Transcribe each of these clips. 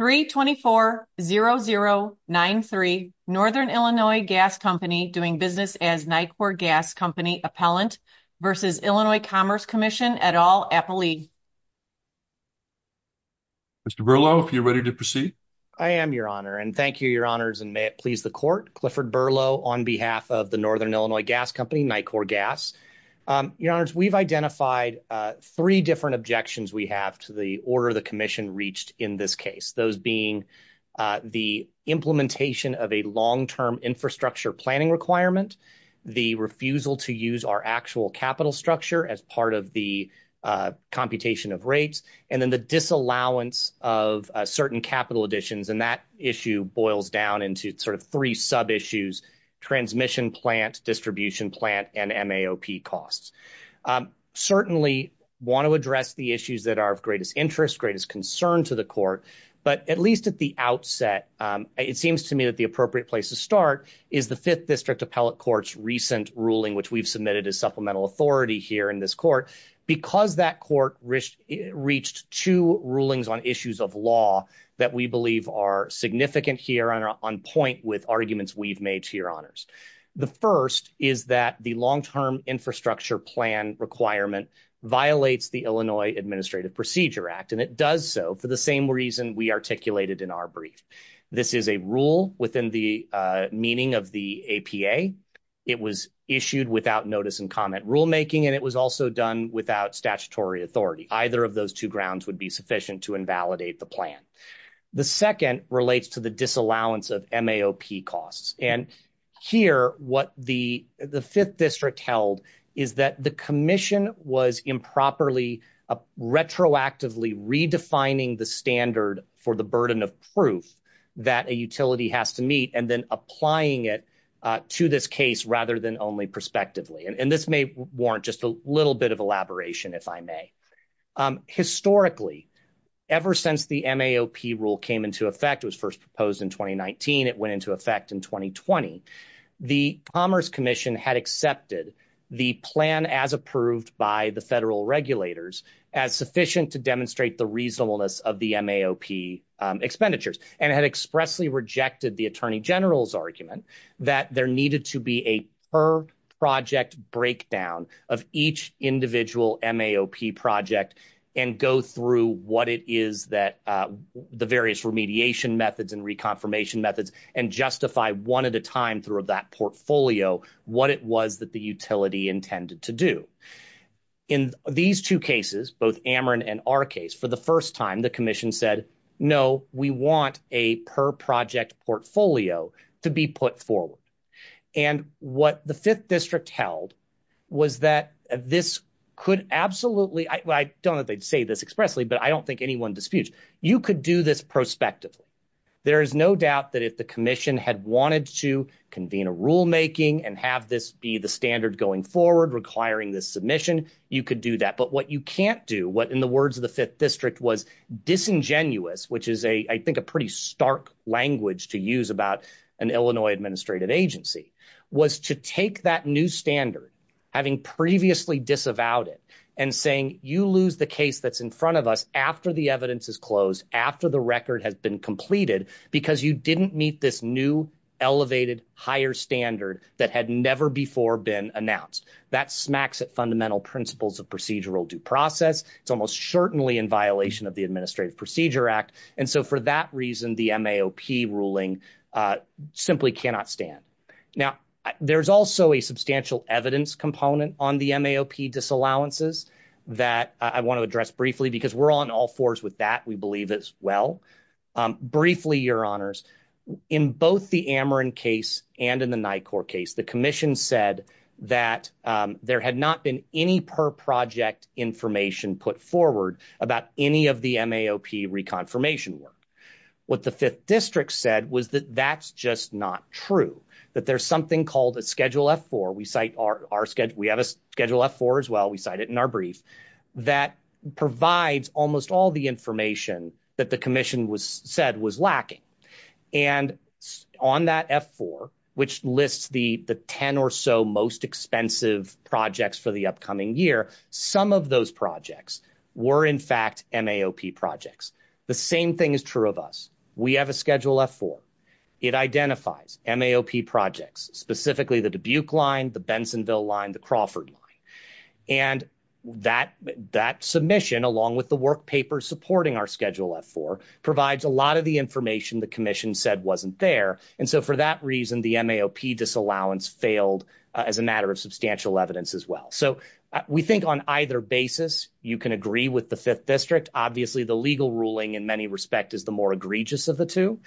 324-0093, Northern Illinois Gas Co. doing business as NICOR Gas Co. Appellant v. Illinois Commerce Comm'n et al. Appellee. Mr. Berlow, if you're ready to proceed. I am, Your Honor, and thank you, Your Honors, and may it please the Court. Clifford Berlow on behalf of the Northern Illinois Gas Co., NICOR Gas. Your Honors, we've identified three different objections we have to the order the Commission reached in this case, those being the implementation of a long-term infrastructure planning requirement, the refusal to use our actual capital structure as part of the computation of rates, and then the disallowance of certain capital additions. And that issue boils down into sort of three sub-issues, transmission plant, distribution plant, and MAOP costs. Certainly want to address the issues that are of greatest interest, greatest concern to the Court, but at least at the outset, it seems to me that the appropriate place to start is the Fifth District Appellate Court's recent ruling, which we've submitted as supplemental authority here in this Court. Because that Court reached two rulings on issues of law that we believe are significant here and are on point with arguments we've made to Your Honors. The first is that the long-term infrastructure plan requirement violates the Illinois Administrative Procedure Act, and it does so for the same reason we articulated in our brief. This is a rule within the meaning of the APA. It was issued without notice and comment rulemaking, and it was also done without statutory authority. Either of those two grounds would be sufficient to invalidate the plan. The second relates to the disallowance of MAOP costs. And here, what the Fifth District held is that the commission was improperly retroactively redefining the standard for the burden of proof that a utility has to meet and then applying it to this case rather than only prospectively. And this may warrant just a little bit of elaboration, if I may. Historically, ever since the MAOP rule came into effect, it was first proposed in 2019, it went into effect in 2020, the Commerce Commission had accepted the plan as approved by the federal regulators as sufficient to demonstrate the reasonableness of the MAOP expenditures and had expressly rejected the Attorney General's argument that there needed to be a third project breakdown of each individual MAOP project and go through what it is that the various remediation methods and reconfirmation methods and justify one at a time through that portfolio what it was that the utility intended to do. In these two cases, both Ameren and our case, for the first time, the commission said, no, we want a per project portfolio to be put forward. And what the Fifth District held was that this could absolutely, I don't know if they'd say this expressly, but I don't think anyone disputes, you could do this prospectively. There is no doubt that if the commission had wanted to convene a rulemaking and have this be the standard going forward requiring this submission, you could do that. But what you can't do, what in the words of the Fifth District was disingenuous, which is, I think, a pretty stark language to use about an Illinois administrative agency, was to take that new standard, having previously disavowed it, and saying, you lose the case that's in front of us after the evidence is closed, after the record has been completed, because you didn't meet this new, elevated, higher standard that had never before been announced. That smacks at fundamental principles of procedural due process. It's almost certainly in violation of the Administrative Procedure Act. And so, for that reason, the MAOP ruling simply cannot stand. Now, there's also a substantial evidence component on the MAOP disallowances that I want to address briefly, because we're on all fours with that, we believe, as well. Briefly, your honors, in both the Ameren case and in the NICOR case, the commission said that there had not been any per project information put forward about any of the MAOP reconfirmation work. What the Fifth District said was that that's just not true, that there's something called a Schedule F-4, we have a Schedule F-4 as well, we cite it in our brief, that provides almost all the information that the commission said was lacking. And on that F-4, which lists the 10 or so most expensive projects for the upcoming year, some of those projects were, in fact, MAOP projects. The same thing is true of us. We have a Schedule F-4. It identifies MAOP projects, specifically the Dubuque line, the Bensonville line, the Crawford line. And that submission, along with the work paper supporting our Schedule F-4, provides a lot of the information the commission said wasn't there. And so, for that reason, the MAOP disallowance failed as a matter of substantial evidence as well. So, we think on either basis, you can agree with the Fifth District. Obviously, the legal ruling, in many respects, is the more egregious of the two.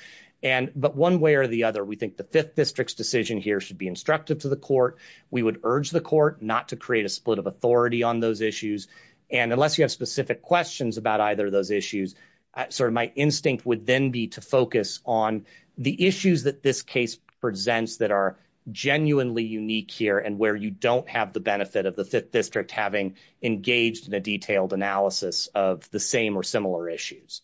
But one way or the other, we think the Fifth District's decision here should be instructive to the court. We would urge the court not to create a split of authority on those issues. And unless you have specific questions about either of those issues, sort of my instinct would then be to focus on the issues that this case presents that are genuinely unique here and where you don't have the benefit of the Fifth District having engaged in a detailed analysis of the same or similar issues.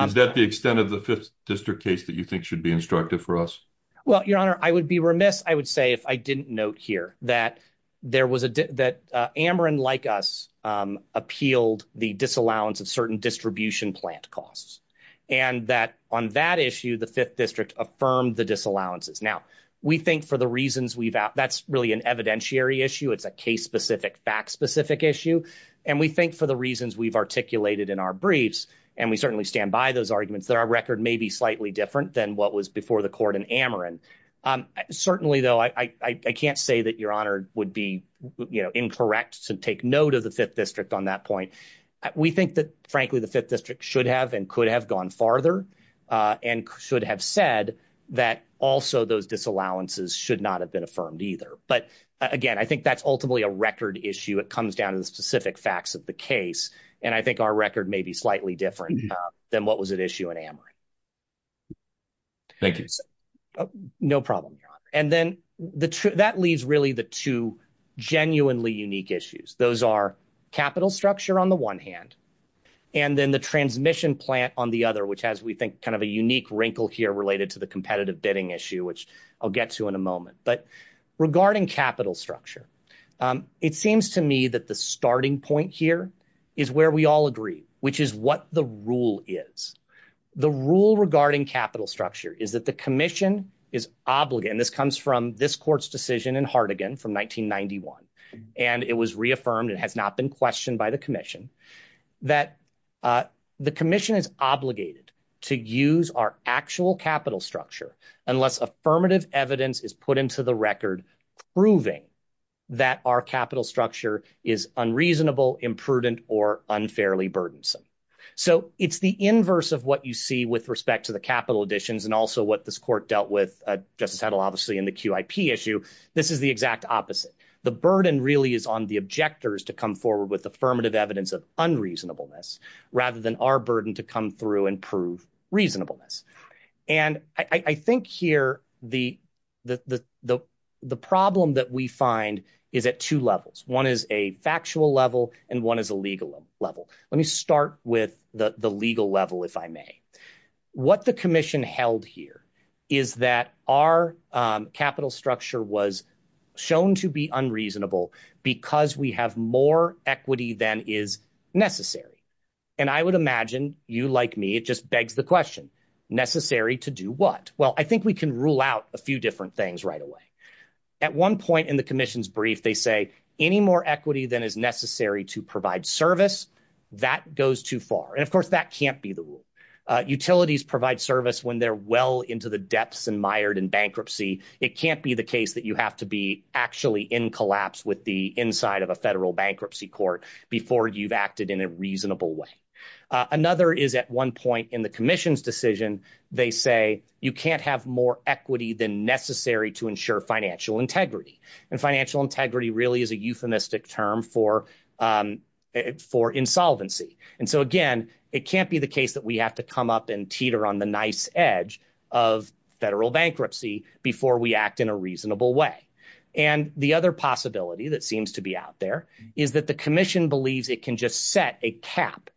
Is that the extent of the Fifth District case that you think should be instructive for us? Well, Your Honor, I would be remiss, I would say, if I didn't note here that Ameren, like us, appealed the disallowance of certain distribution plant costs. And that on that issue, the Fifth District affirmed the disallowances. Now, we think for the reasons we've – that's really an evidentiary issue. It's a case-specific, fact-specific issue. And we think for the reasons we've articulated in our briefs, and we certainly stand by those arguments, that our record may be slightly different than what was before the court in Ameren. Certainly, though, I can't say that Your Honor would be incorrect to take note of the Fifth District on that point. We think that, frankly, the Fifth District should have and could have gone farther and should have said that also those disallowances should not have been affirmed either. But, again, I think that's ultimately a record issue. It comes down to the specific facts of the case. And I think our record may be slightly different than what was at issue in Ameren. Thank you. The rule regarding capital structure is that the commission is obligated – and this comes from this court's decision in Hartigan from 1991, and it was reaffirmed and has not been questioned by the commission – that the commission is obligated to use our actual capital structure unless affirmative evidence is put into the record proving that our capital structure is unreasonable, imprudent, or unfairly burdensome. So it's the inverse of what you see with respect to the capital additions and also what this court dealt with, Justice Hedl, obviously, in the QIP issue. This is the exact opposite. The burden really is on the objectors to come forward with affirmative evidence of unreasonableness rather than our burden to come through and prove reasonableness. And I think here the problem that we find is at two levels. One is a factual level and one is a legal level. Let me start with the legal level if I may. What the commission held here is that our capital structure was shown to be unreasonable because we have more equity than is necessary. And I would imagine you, like me, it just begs the question, necessary to do what? Well, I think we can rule out a few different things right away. At one point in the commission's brief, they say any more equity than is necessary to provide service, that goes too far. And of course, that can't be the rule. Utilities provide service when they're well into the depths and mired in bankruptcy. It can't be the case that you have to be actually in collapse with the inside of a federal bankruptcy court before you've acted in a reasonable way. Another is at one point in the commission's decision, they say you can't have more equity than necessary to ensure financial integrity. And financial integrity really is a euphemistic term for insolvency. And so, again, it can't be the case that we have to come up and teeter on the nice edge of federal bankruptcy before we act in a reasonable way. And the other possibility that seems to be out there is that the commission believes it can just set a cap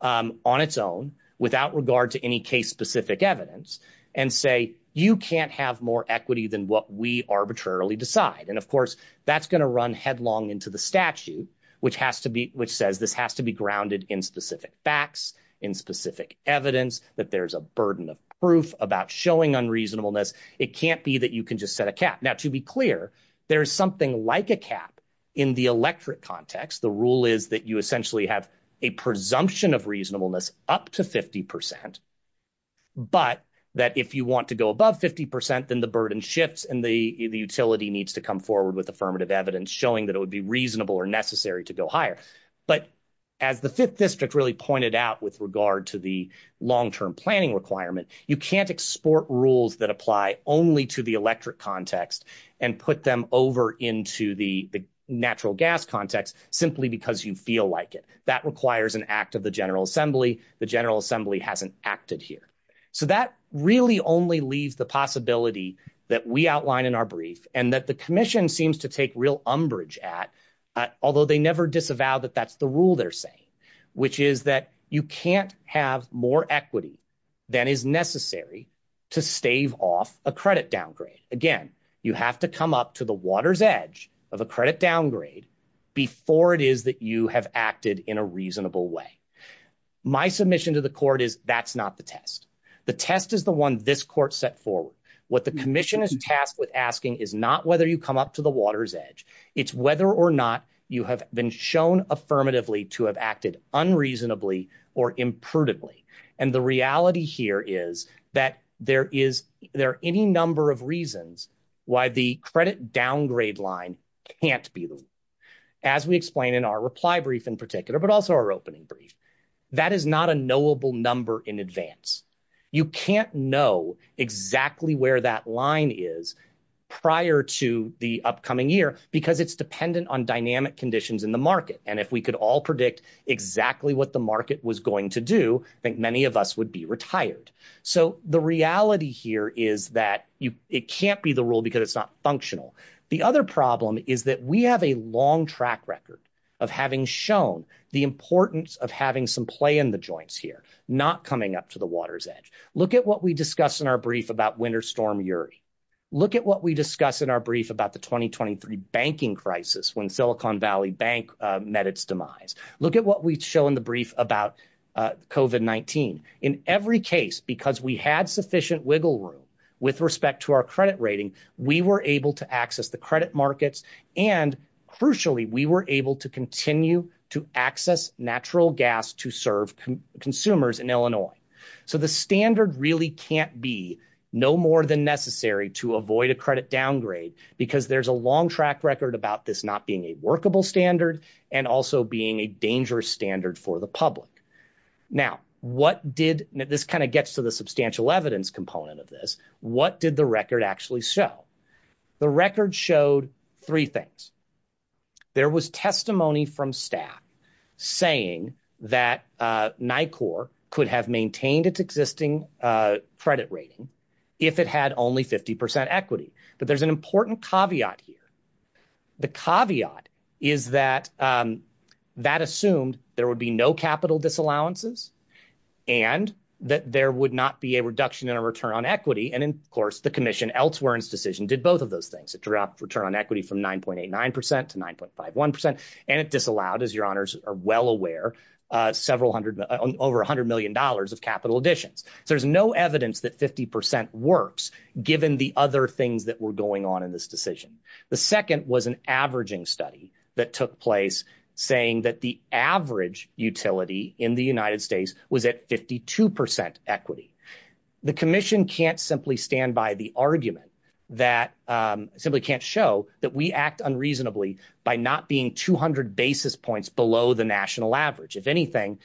on its own without regard to any case specific evidence and say you can't have more equity than what we arbitrarily decide. And of course, that's going to run headlong into the statute, which has to be which says this has to be grounded in specific facts, in specific evidence that there's a burden of proof about showing unreasonableness. It can't be that you can just set a cap. Now, to be clear, there is something like a cap in the electorate context. The rule is that you essentially have a presumption of reasonableness up to 50 percent, but that if you want to go above 50 percent, then the burden shifts and the utility needs to come forward with affirmative evidence showing that it would be reasonable or necessary to go higher. But as the fifth district really pointed out with regard to the long term planning requirement, you can't export rules that apply only to the electorate context and put them over into the natural gas context simply because you feel like it. That requires an act of the General Assembly. The General Assembly hasn't acted here. So that really only leaves the possibility that we outline in our brief and that the commission seems to take real umbrage at, although they never disavow that that's the rule they're saying, which is that you can't have more equity than is necessary to stave off a credit downgrade. Again, you have to come up to the water's edge of a credit downgrade before it is that you have acted in a reasonable way. My submission to the court is that's not the test. The test is the one this court set forward. What the commission is tasked with asking is not whether you come up to the water's edge. It's whether or not you have been shown affirmatively to have acted unreasonably or imprudently. And the reality here is that there is there any number of reasons why the credit downgrade line can't be, as we explain in our reply brief in particular, but also our opening brief. That is not a knowable number in advance. You can't know exactly where that line is prior to the upcoming year because it's dependent on dynamic conditions in the market. And if we could all predict exactly what the market was going to do, I think many of us would be retired. So the reality here is that it can't be the rule because it's not functional. The other problem is that we have a long track record of having shown the importance of having some play in the joints here, not coming up to the water's edge. Look at what we discuss in our brief about winter storm URI. Look at what we discuss in our brief about the 2023 banking crisis when Silicon Valley Bank met its demise. Look at what we show in the brief about COVID-19. In every case, because we had sufficient wiggle room with respect to our credit rating, we were able to access the credit markets and crucially, we were able to continue to access natural gas to serve consumers in Illinois. So the standard really can't be no more than necessary to avoid a credit downgrade because there's a long track record about this not being a workable standard and also being a dangerous standard for the public. Now, what did – this kind of gets to the substantial evidence component of this. What did the record actually show? The record showed three things. There was testimony from staff saying that NICOR could have maintained its existing credit rating if it had only 50 percent equity, but there's an important caveat here. The caveat is that that assumed there would be no capital disallowances and that there would not be a reduction in a return on equity, and of course, the commission elsewhere in its decision did both of those things. It dropped return on equity from 9.89 percent to 9.51 percent, and it disallowed, as your honors are well aware, several hundred – over $100 million of capital additions. So there's no evidence that 50 percent works given the other things that were going on in this decision. The second was an averaging study that took place saying that the average utility in the United States was at 52 percent equity. The commission can't simply stand by the argument that – simply can't show that we act unreasonably by not being 200 basis points below the national average. If anything,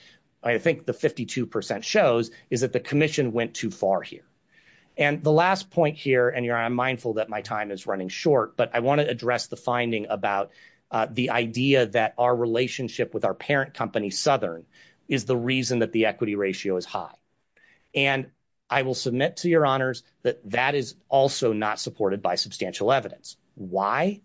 I think the 52 percent shows is that the commission went too far here. And the last point here – and I'm mindful that my time is running short, but I want to address the finding about the idea that our relationship with our parent company, Southern, is the reason that the equity ratio is high. And I will submit to your honors that that is also not supported by substantial evidence. Why?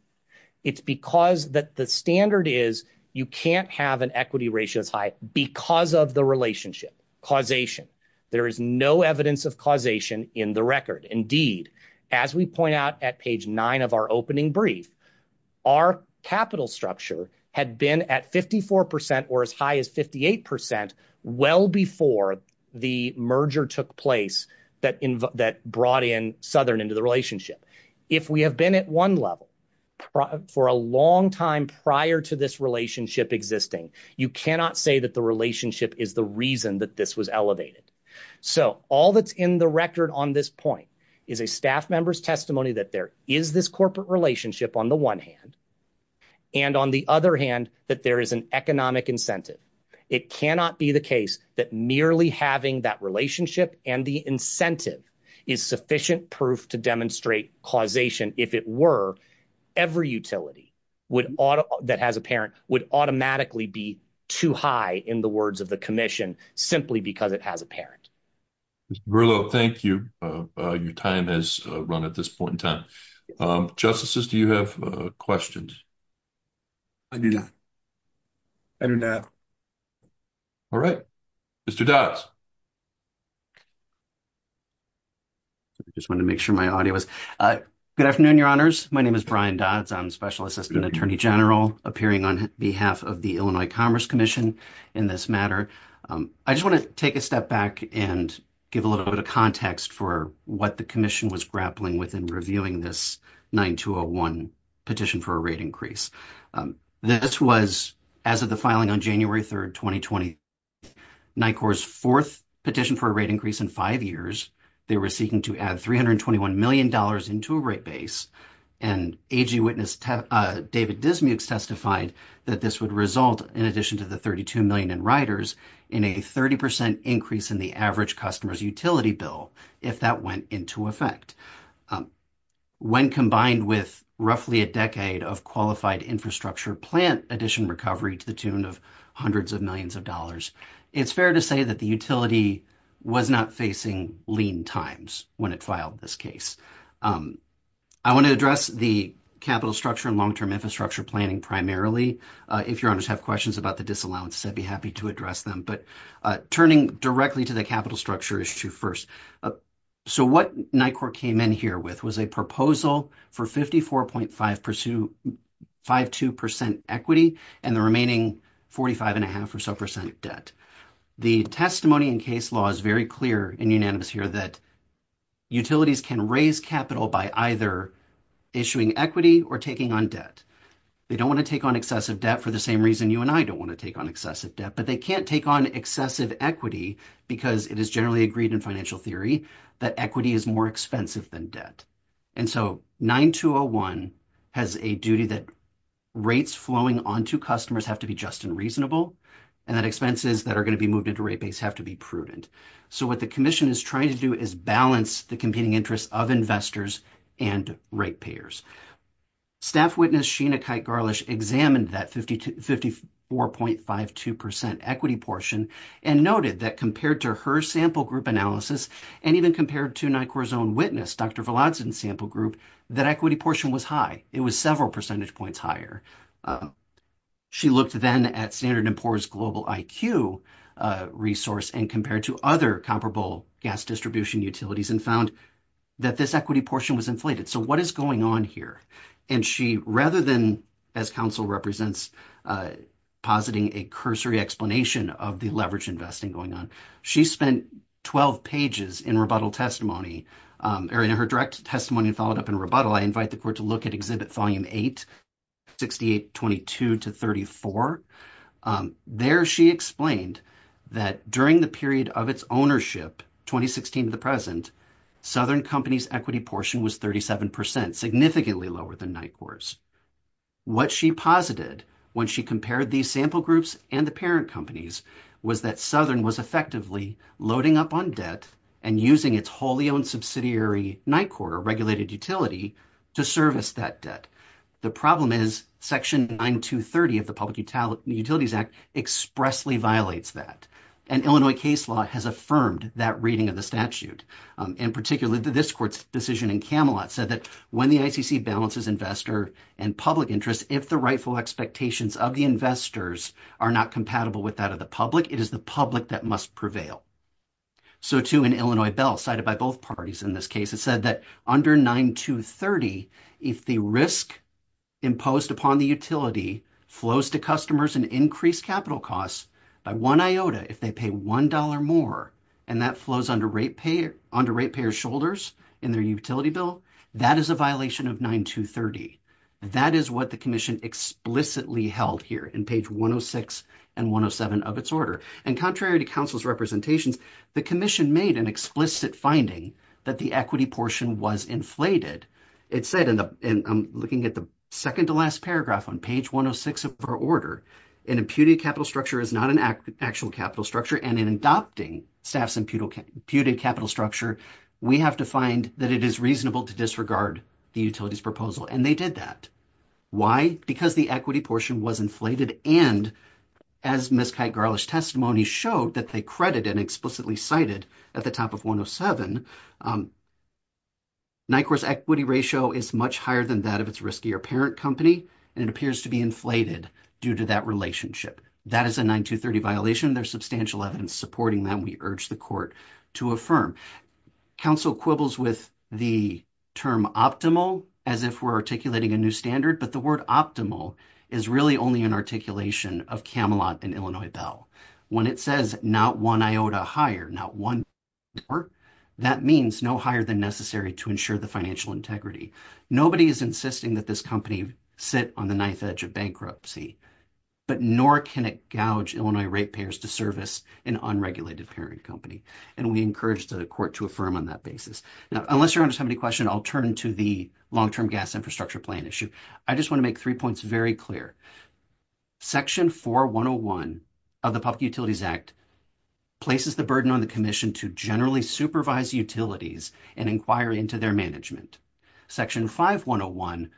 It's because the standard is you can't have an equity ratio that's high because of the relationship, causation. There is no evidence of causation in the record. Indeed, as we point out at page nine of our opening brief, our capital structure had been at 54 percent or as high as 58 percent well before the merger took place that brought in Southern into the relationship. If we have been at one level for a long time prior to this relationship existing, you cannot say that the relationship is the reason that this was elevated. So all that's in the record on this point is a staff member's testimony that there is this corporate relationship on the one hand and on the other hand that there is an economic incentive. It cannot be the case that merely having that relationship and the incentive is sufficient proof to demonstrate causation. If it were, every utility that has a parent would automatically be too high in the words of the commission simply because it has a parent. Mr. Verlo, thank you. Your time has run at this point in time. Justices, do you have questions? I do not. I do not. All right. Mr. Dodds. I just want to make sure my audio is good afternoon. Your honors. My name is Brian Dodds. I'm special assistant attorney general appearing on behalf of the Illinois Commerce Commission in this matter. I just want to take a step back and give a little bit of context for what the commission was grappling with in reviewing this 9201 petition for a rate increase. This was as of the filing on January 3rd, 2020, NICOR's fourth petition for a rate increase in five years. They were seeking to add $321 million into a rate base, and AG witness David Dismukes testified that this would result, in addition to the 32 million in riders, in a 30% increase in the average customer's utility bill if that went into effect. When combined with roughly a decade of qualified infrastructure plant addition recovery to the tune of hundreds of millions of dollars, it's fair to say that the utility was not facing lean times when it filed this case. I want to address the capital structure and long term infrastructure planning primarily. If your honors have questions about the disallowances, I'd be happy to address them, but turning directly to the capital structure issue first. So what NICOR came in here with was a proposal for 54.52% equity and the remaining 45.5% debt. The testimony in case law is very clear and unanimous here that utilities can raise capital by either issuing equity or taking on debt. They don't want to take on excessive debt for the same reason you and I don't want to take on excessive debt, but they can't take on excessive equity because it is generally agreed in financial theory that equity is more expensive than debt. And so 9201 has a duty that rates flowing onto customers have to be just and reasonable, and that expenses that are going to be moved into rate base have to be prudent. So what the commission is trying to do is balance the competing interests of investors and rate payers. Staff witness Sheena Kite-Garlish examined that 54.52% equity portion and noted that compared to her sample group analysis and even compared to NICOR's own witness, Dr. Veladze's sample group, that equity portion was high. It was several percentage points higher. She looked then at Standard & Poor's global IQ resource and compared to other comparable gas distribution utilities and found that this equity portion was inflated. So what is going on here? And she, rather than, as counsel represents positing a cursory explanation of the leverage investing going on, she spent 12 pages in rebuttal testimony or in her direct testimony and followed up in rebuttal. I invite the court to look at Exhibit Volume 8, 6822-34. There she explained that during the period of its ownership, 2016 to the present, Southern Company's equity portion was 37%, significantly lower than NICOR's. What she posited when she compared these sample groups and the parent companies was that Southern was effectively loading up on debt and using its wholly owned subsidiary NICOR regulated utility to service that debt. The problem is Section 9230 of the Public Utilities Act expressly violates that. An Illinois case law has affirmed that reading of the statute. In particular, this court's decision in Camelot said that when the ICC balances investor and public interest, if the rightful expectations of the investors are not compatible with that of the public, it is the public that must prevail. So, too, an Illinois bill cited by both parties in this case, it said that under 9230, if the risk imposed upon the utility flows to customers and increased capital costs by one iota, if they pay $1 more and that flows under rate payer's shoulders in their utility bill, that is a violation of 9230. That is what the commission explicitly held here in page 106 and 107 of its order. And contrary to council's representations, the commission made an explicit finding that the equity portion was inflated. It said, and I'm looking at the second to last paragraph on page 106 of our order, an imputed capital structure is not an actual capital structure and in adopting staff's imputed capital structure, we have to find that it is reasonable to disregard the utility's proposal. And they did that. Why? Because the equity portion was inflated and as Ms. Kight-Garlish's testimony showed that they credited and explicitly cited at the top of 107, NICOR's equity ratio is much higher than that of its riskier parent company. And it appears to be inflated due to that relationship. That is a 9230 violation. There's substantial evidence supporting that. We urge the court to affirm. Council quibbles with the term optimal as if we're articulating a new standard, but the word optimal is really only an articulation of Camelot and Illinois Bell. When it says not one iota higher, not one, that means no higher than necessary to ensure the financial integrity. Nobody is insisting that this company sit on the ninth edge of bankruptcy, but nor can it gouge Illinois rate payers to service an unregulated parent company. And we encourage the court to affirm on that basis. Now, unless you have any questions, I'll turn to the long-term gas infrastructure plan issue. I just want to make three points very clear. Section 4101 of the Public Utilities Act places the burden on the commission to generally supervise utilities and inquire into their management. Section 5101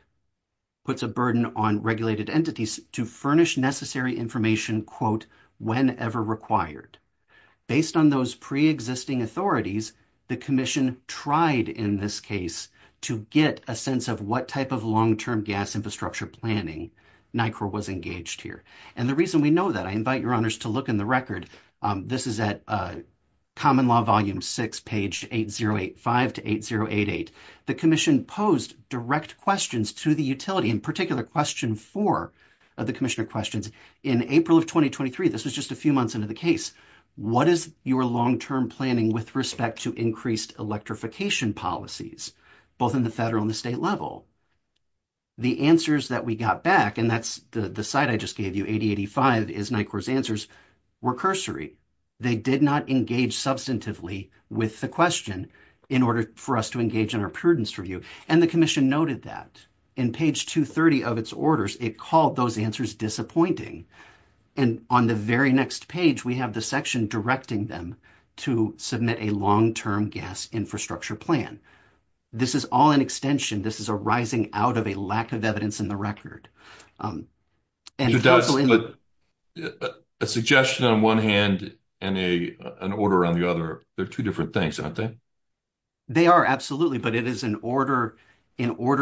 puts a burden on regulated entities to furnish necessary information, quote, whenever required. Based on those pre-existing authorities, the commission tried in this case to get a sense of what type of long-term gas infrastructure planning NICOR was engaged here. And the reason we know that, I invite your honors to look in the record. This is at Common Law Volume 6, page 8085 to 8088. The commission posed direct questions to the utility, in particular question 4 of the commissioner questions. In April of 2023, this was just a few months into the case. What is your long-term planning with respect to increased electrification policies, both in the federal and the state level? The answers that we got back, and that's the site I just gave you, 8085 is NICOR's answers, were cursory. They did not engage substantively with the question in order for us to engage in our prudence review. And the commission noted that. In page 230 of its orders, it called those answers disappointing. And on the very next page, we have the section directing them to submit a long-term gas infrastructure plan. This is all an extension. This is a rising out of a lack of evidence in the record. But a suggestion on one hand and an order on the other, they're two different things, aren't they? They are, absolutely. But it is in order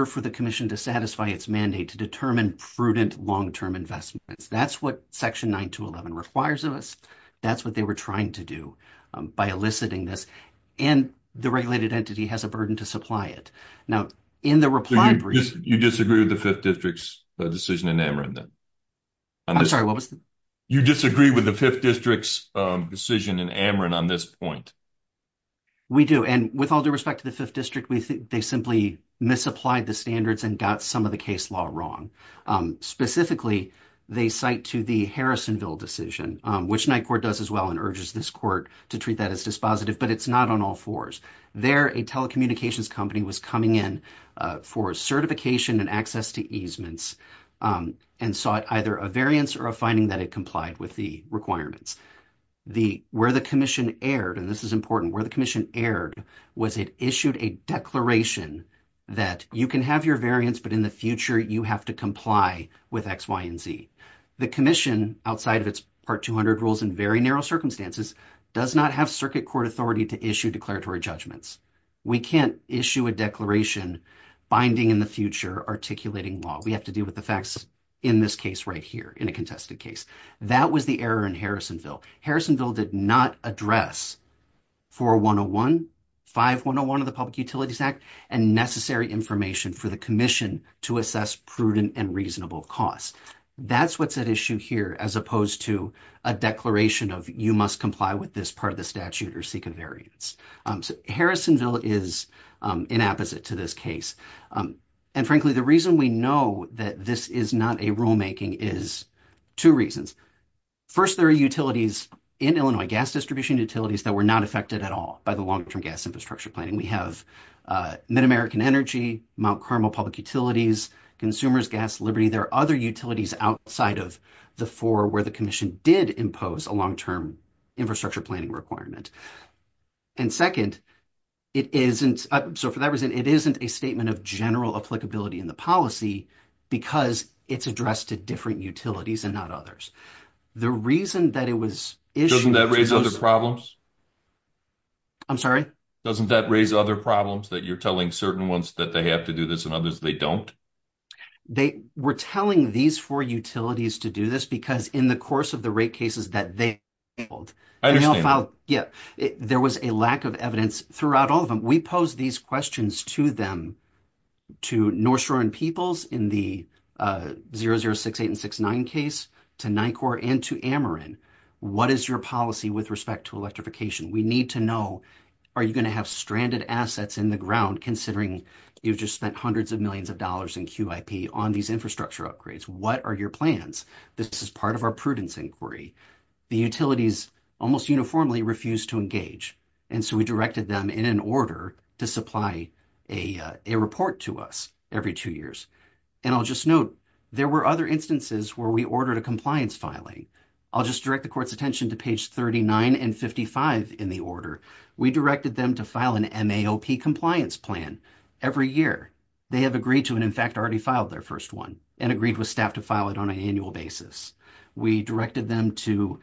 for the commission to satisfy its mandate to determine prudent long-term investments. That's what section 9211 requires of us. That's what they were trying to do by eliciting this. And the regulated entity has a burden to supply it. Now, in the reply brief — You disagree with the 5th District's decision in Ameren, then? I'm sorry, what was the — You disagree with the 5th District's decision in Ameren on this point? We do. And with all due respect to the 5th District, they simply misapplied the standards and got some of the case law wrong. Specifically, they cite to the Harrisonville decision, which NYCORP does as well and urges this court to treat that as dispositive. But it's not on all fours. There, a telecommunications company was coming in for certification and access to easements and sought either a variance or a finding that it complied with the requirements. Where the commission erred, and this is important, where the commission erred was it issued a declaration that you can have your variance, but in the future you have to comply with X, Y, and Z. The commission, outside of its Part 200 rules and very narrow circumstances, does not have circuit court authority to issue declaratory judgments. We can't issue a declaration binding in the future articulating law. We have to deal with the facts in this case right here, in a contested case. That was the error in Harrisonville. Harrisonville did not address 4101, 5101 of the Public Utilities Act, and necessary information for the commission to assess prudent and reasonable costs. That's what's at issue here as opposed to a declaration of you must comply with this part of the statute or seek a variance. Harrisonville is inapposite to this case. And frankly, the reason we know that this is not a rulemaking is two reasons. First, there are utilities in Illinois, gas distribution utilities, that were not affected at all by the long-term gas infrastructure planning. We have MidAmerican Energy, Mount Carmel Public Utilities, Consumers Gas Liberty. There are other utilities outside of the four where the commission did impose a long-term infrastructure planning requirement. And second, it isn't, so for that reason, it isn't a statement of general applicability in the policy because it's addressed to different utilities and not others. The reason that it was issued… Doesn't that raise other problems? I'm sorry? Doesn't that raise other problems that you're telling certain ones that they have to do this and others they don't? They were telling these four utilities to do this because in the course of the rate cases that they filed… I understand that. Yeah, there was a lack of evidence throughout all of them. We posed these questions to them, to North Shore and Peoples in the 0068 and 069 case, to NICOR and to Ameren. What is your policy with respect to electrification? We need to know, are you going to have stranded assets in the ground considering you've just spent hundreds of millions of dollars in QIP on these infrastructure upgrades? What are your plans? This is part of our prudence inquiry. The utilities almost uniformly refused to engage, and so we directed them in an order to supply a report to us every two years. And I'll just note, there were other instances where we ordered a compliance filing. I'll just direct the court's attention to page 39 and 55 in the order. We directed them to file an MAOP compliance plan every year. They have agreed to and, in fact, already filed their first one and agreed with staff to file it on an annual basis. We directed them to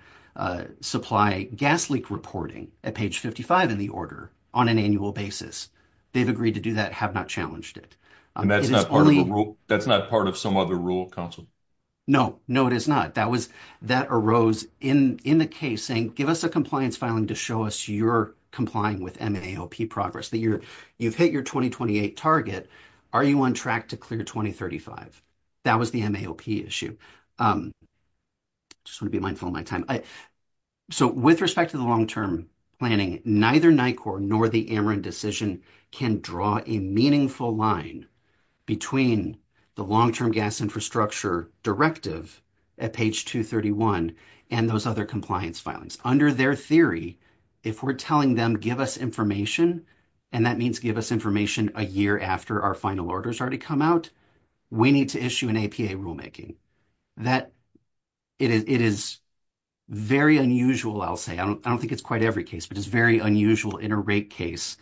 supply gas leak reporting at page 55 in the order on an annual basis. They've agreed to do that, have not challenged it. And that's not part of some other rule, counsel? No, no, it is not. That arose in the case saying, give us a compliance filing to show us you're complying with MAOP progress, that you've hit your 2028 target. Are you on track to clear 2035? That was the MAOP issue. Just want to be mindful of my time. So with respect to the long-term planning, neither NICOR nor the Ameren decision can draw a meaningful line between the long-term gas infrastructure directive at page 231 and those other compliance filings. Under their theory, if we're telling them, give us information, and that means give us information a year after our final orders already come out, we need to issue an APA rulemaking. It is very unusual, I'll say. I don't think it's quite every case, but it's very unusual in a rate case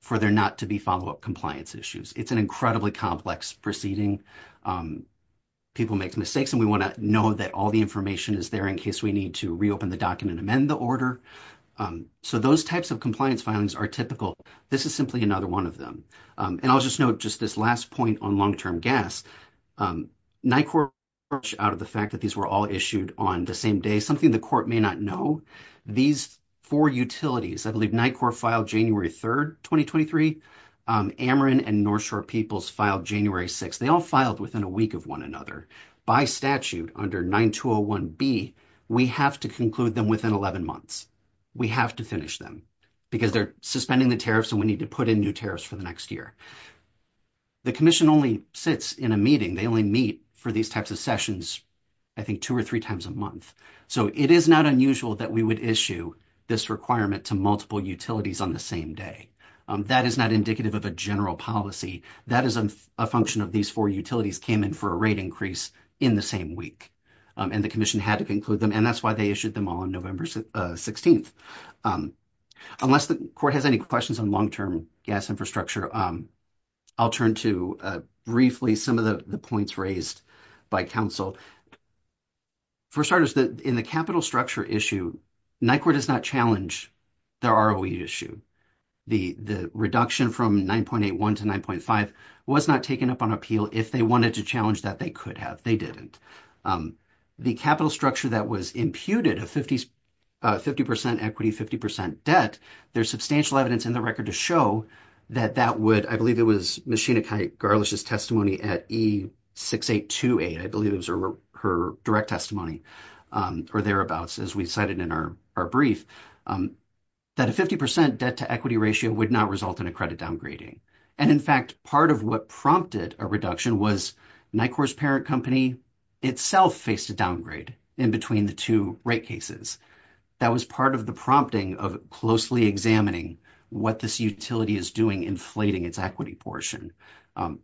for there not to be follow-up compliance issues. It's an incredibly complex proceeding. People make mistakes, and we want to know that all the information is there in case we need to reopen the document and amend the order. So those types of compliance filings are typical. This is simply another one of them. And I'll just note just this last point on long-term gas. NICOR, out of the fact that these were all issued on the same day, something the court may not know, these four utilities, I believe NICOR filed January 3rd, 2023. Ameren and North Shore Peoples filed January 6th. They all filed within a week of one another. By statute, under 9201B, we have to conclude them within 11 months. We have to finish them because they're suspending the tariffs, and we need to put in new tariffs for the next year. The commission only sits in a meeting. They only meet for these types of sessions, I think, two or three times a month. So it is not unusual that we would issue this requirement to multiple utilities on the same day. That is not indicative of a general policy. That is a function of these four utilities came in for a rate increase in the same week. And the commission had to conclude them, and that's why they issued them all on November 16th. Unless the court has any questions on long-term gas infrastructure, I'll turn to briefly some of the points raised by counsel. For starters, in the capital structure issue, NICOR does not challenge the ROE issue. The reduction from 9.81 to 9.5 was not taken up on appeal. If they wanted to challenge that, they could have. They didn't. The capital structure that was imputed, a 50% equity, 50% debt, there's substantial evidence in the record to show that that would – I believe it was Ms. Sheenakai Garlish's testimony at E6828. I believe it was her direct testimony or thereabouts, as we cited in our brief. That a 50% debt-to-equity ratio would not result in a credit downgrading. And, in fact, part of what prompted a reduction was NICOR's parent company itself faced a downgrade in between the two rate cases. That was part of the prompting of closely examining what this utility is doing inflating its equity portion.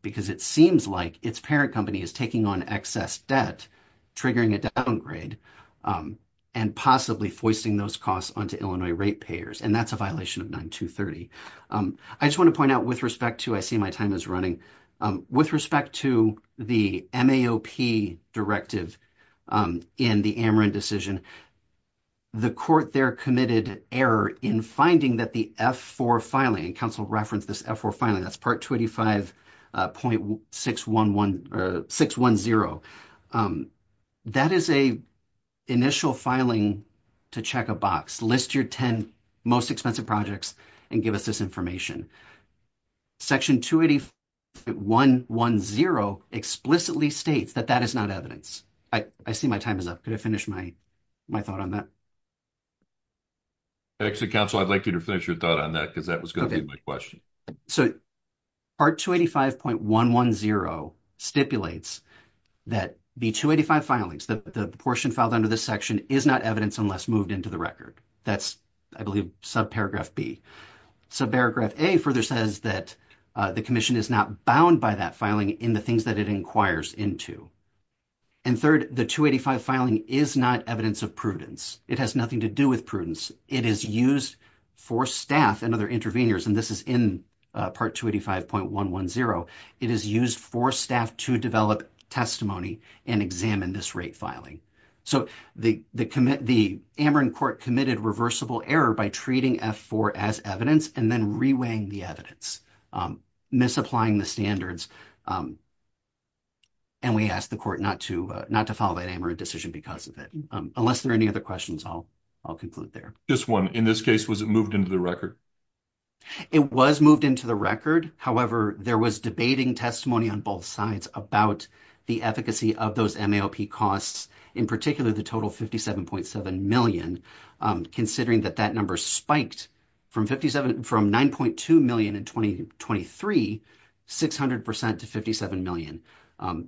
Because it seems like its parent company is taking on excess debt, triggering a downgrade, and possibly foisting those costs onto Illinois rate payers. And that's a violation of 9.230. I just want to point out with respect to – I see my time is running. With respect to the MAOP directive in the Ameren decision, the court there committed error in finding that the F-4 filing – Section 285.610 – that is an initial filing to check a box. List your 10 most expensive projects and give us this information. Section 285.110 explicitly states that that is not evidence. I see my time is up. Could I finish my thought on that? Actually, counsel, I'd like you to finish your thought on that because that was going to be my question. Part 285.110 stipulates that the 285 filings, the portion filed under this section, is not evidence unless moved into the record. That's, I believe, subparagraph B. Subparagraph A further says that the commission is not bound by that filing in the things that it inquires into. And third, the 285 filing is not evidence of prudence. It has nothing to do with prudence. It is used for staff and other interveners. And this is in Part 285.110. It is used for staff to develop testimony and examine this rate filing. So the Ameren court committed reversible error by treating F-4 as evidence and then reweighing the evidence, misapplying the standards. And we ask the court not to not to follow that Ameren decision because of it. Unless there are any other questions, I'll conclude there. Just one. In this case, was it moved into the record? It was moved into the record. However, there was debating testimony on both sides about the efficacy of those MAOP costs, in particular the total 57.7 million, considering that that number spiked from 9.2 million in 2023, 600 percent to 57 million.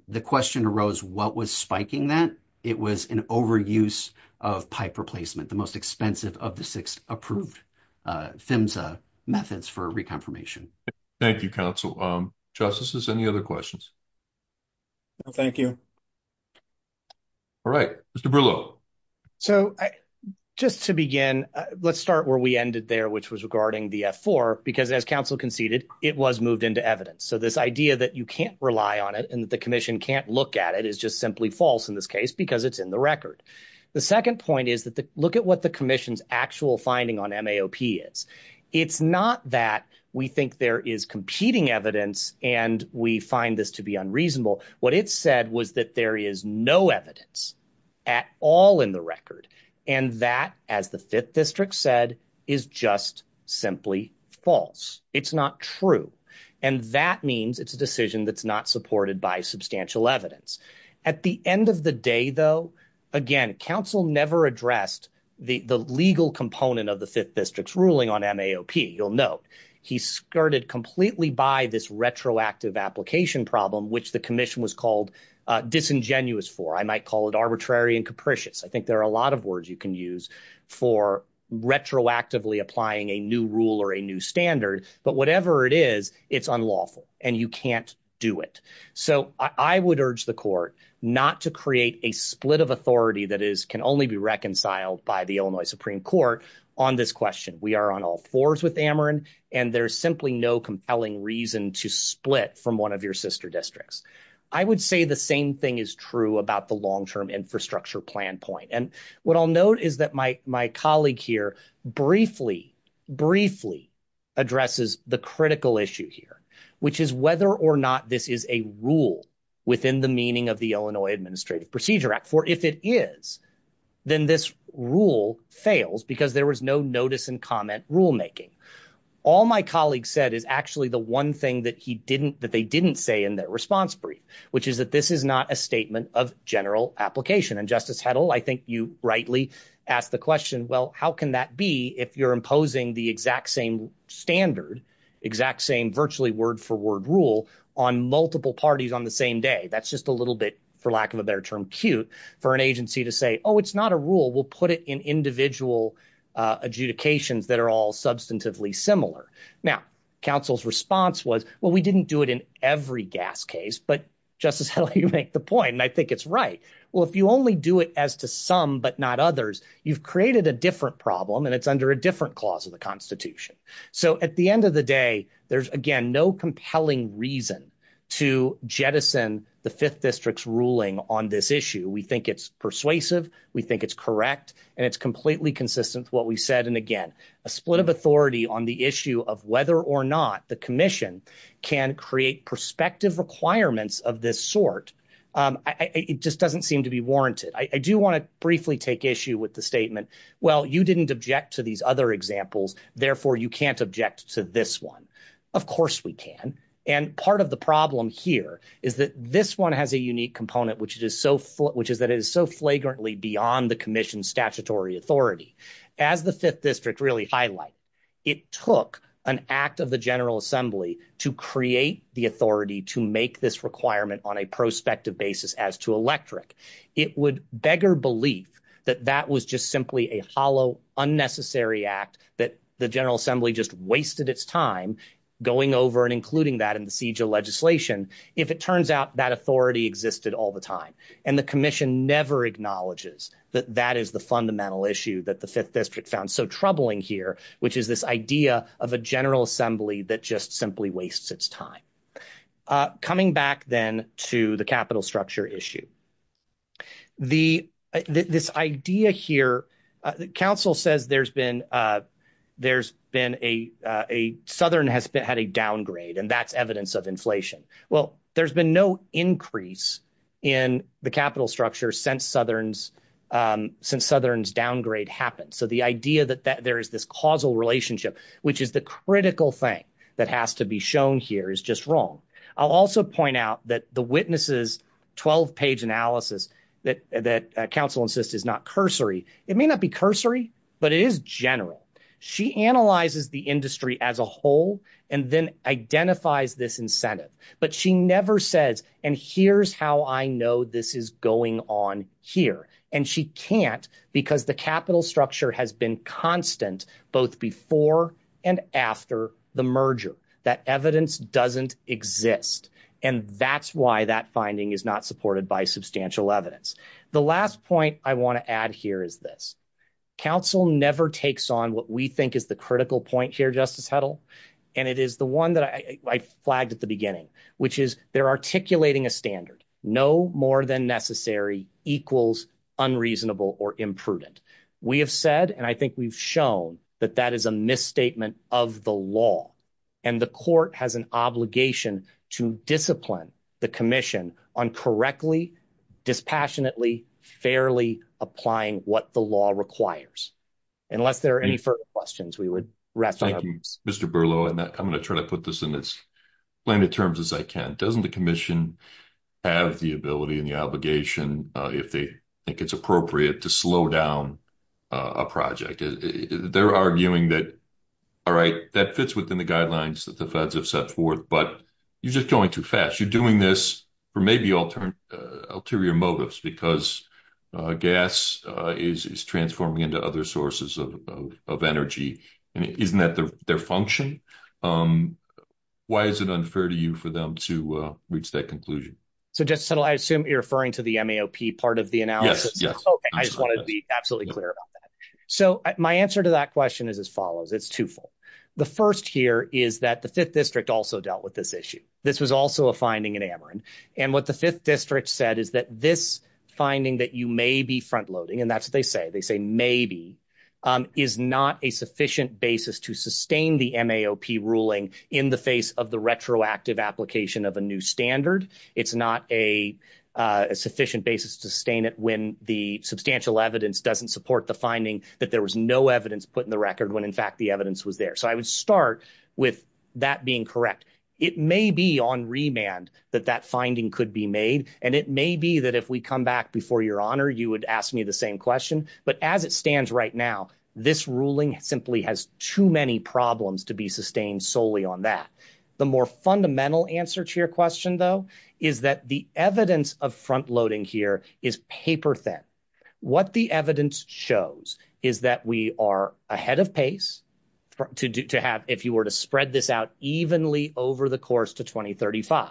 The question arose, what was spiking that? And it was an overuse of pipe replacement, the most expensive of the six approved PHMSA methods for reconfirmation. Thank you, counsel. Justices, any other questions? No, thank you. All right. Mr. Brillo. So just to begin, let's start where we ended there, which was regarding the F-4, because as counsel conceded, it was moved into evidence. So this idea that you can't rely on it and that the commission can't look at it is just simply false in this case because it's in the record. The second point is that look at what the commission's actual finding on MAOP is. It's not that we think there is competing evidence and we find this to be unreasonable. What it said was that there is no evidence at all in the record. And that, as the Fifth District said, is just simply false. It's not true. And that means it's a decision that's not supported by substantial evidence. At the end of the day, though, again, counsel never addressed the legal component of the Fifth District's ruling on MAOP. You'll note he skirted completely by this retroactive application problem, which the commission was called disingenuous for. I might call it arbitrary and capricious. I think there are a lot of words you can use for retroactively applying a new rule or a new standard. But whatever it is, it's unlawful and you can't do it. So I would urge the court not to create a split of authority that can only be reconciled by the Illinois Supreme Court on this question. We are on all fours with Ameren, and there's simply no compelling reason to split from one of your sister districts. I would say the same thing is true about the long-term infrastructure plan point. And what I'll note is that my colleague here briefly, briefly addresses the critical issue here, which is whether or not this is a rule within the meaning of the Illinois Administrative Procedure Act. For if it is, then this rule fails because there was no notice and comment rulemaking. All my colleague said is actually the one thing that he didn't that they didn't say in their response brief, which is that this is not a statement of general application. And Justice Heddle, I think you rightly asked the question, well, how can that be if you're imposing the exact same standard, exact same virtually word for word rule on multiple parties on the same day? That's just a little bit, for lack of a better term, cute for an agency to say, oh, it's not a rule. We'll put it in individual adjudications that are all substantively similar. Now, counsel's response was, well, we didn't do it in every gas case. But Justice Heddle, you make the point, and I think it's right. Well, if you only do it as to some but not others, you've created a different problem and it's under a different clause of the Constitution. So at the end of the day, there's, again, no compelling reason to jettison the Fifth District's ruling on this issue. We think it's persuasive. We think it's correct. And it's completely consistent with what we said. And again, a split of authority on the issue of whether or not the commission can create perspective requirements of this sort. It just doesn't seem to be warranted. I do want to briefly take issue with the statement. Well, you didn't object to these other examples. Therefore, you can't object to this one. Of course we can. And part of the problem here is that this one has a unique component, which is so, which is that it is so flagrantly beyond the commission's statutory authority. As the Fifth District really highlight, it took an act of the General Assembly to create the authority to make this requirement on a prospective basis as to electric. It would beggar belief that that was just simply a hollow, unnecessary act that the General Assembly just wasted its time going over and including that in the siege of legislation. If it turns out that authority existed all the time and the commission never acknowledges that that is the fundamental issue that the Fifth District found so troubling here, which is this idea of a General Assembly that just simply wastes its time. Coming back then to the capital structure issue. The this idea here, the council says there's been there's been a Southern has had a downgrade and that's evidence of inflation. Well, there's been no increase in the capital structure since Southern's since Southern's downgrade happened. So the idea that there is this causal relationship, which is the critical thing that has to be shown here is just wrong. I'll also point out that the witnesses 12 page analysis that that council insists is not cursory. It may not be cursory, but it is general. She analyzes the industry as a whole and then identifies this incentive. But she never says, and here's how I know this is going on here. And she can't because the capital structure has been constant both before and after the merger. That evidence doesn't exist. And that's why that finding is not supported by substantial evidence. The last point I want to add here is this council never takes on what we think is the critical point here, Justice Heddle. And it is the one that I flagged at the beginning, which is they're articulating a standard no more than necessary equals unreasonable or imprudent. We have said, and I think we've shown that that is a misstatement of the law. And the court has an obligation to discipline the commission on correctly, dispassionately, fairly applying what the law requires. Unless there are any further questions, we would. Thank you, Mr. Berlo. I'm going to try to put this in as plainly terms as I can. Doesn't the commission have the ability and the obligation, if they think it's appropriate, to slow down a project? They're arguing that, all right, that fits within the guidelines that the feds have set forth, but you're just going too fast. You're doing this for maybe ulterior motives because gas is transforming into other sources of energy. And isn't that their function? Why is it unfair to you for them to reach that conclusion? So, Justice Heddle, I assume you're referring to the MAOP part of the analysis. Yes, yes. OK, I just want to be absolutely clear about that. So my answer to that question is as follows. It's twofold. The first here is that the Fifth District also dealt with this issue. This was also a finding in Ameren. And what the Fifth District said is that this finding that you may be front-loading, and that's what they say, they say maybe, is not a sufficient basis to sustain the MAOP ruling in the face of the retroactive application of a new standard. It's not a sufficient basis to sustain it when the substantial evidence doesn't support the finding that there was no evidence put in the record when, in fact, the evidence was there. So I would start with that being correct. It may be on remand that that finding could be made, and it may be that if we come back before your honor, you would ask me the same question. But as it stands right now, this ruling simply has too many problems to be sustained solely on that. The more fundamental answer to your question, though, is that the evidence of front-loading here is paper-thin. What the evidence shows is that we are ahead of pace to have, if you were to spread this out evenly over the course to 2035.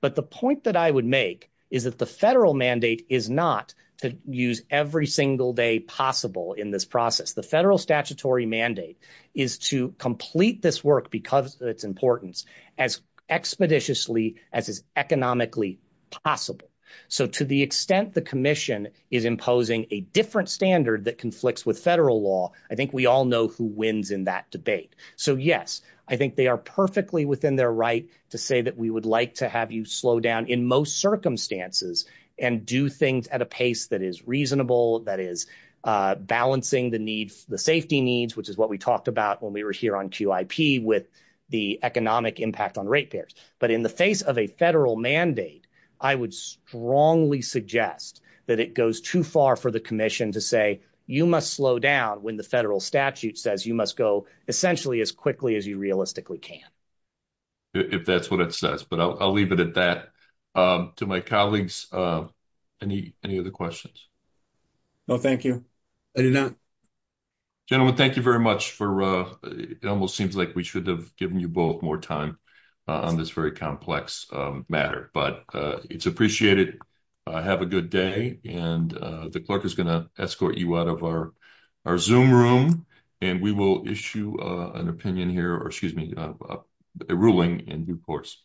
But the point that I would make is that the federal mandate is not to use every single day possible in this process. The federal statutory mandate is to complete this work because of its importance as expeditiously as is economically possible. So to the extent the commission is imposing a different standard that conflicts with federal law, I think we all know who wins in that debate. So, yes, I think they are perfectly within their right to say that we would like to have you slow down in most circumstances and do things at a pace that is reasonable, that is balancing the safety needs, which is what we talked about when we were here on QIP with the economic impact on ratepayers. But in the face of a federal mandate, I would strongly suggest that it goes too far for the commission to say, you must slow down when the federal statute says you must go essentially as quickly as you realistically can. If that's what it says, but I'll leave it at that. To my colleagues, any other questions? No, thank you. I do not. Gentlemen, thank you very much for it almost seems like we should have given you both more time on this very complex matter, but it's appreciated. Have a good day. And the clerk is going to escort you out of our our Zoom room and we will issue an opinion here or excuse me, a ruling in due course.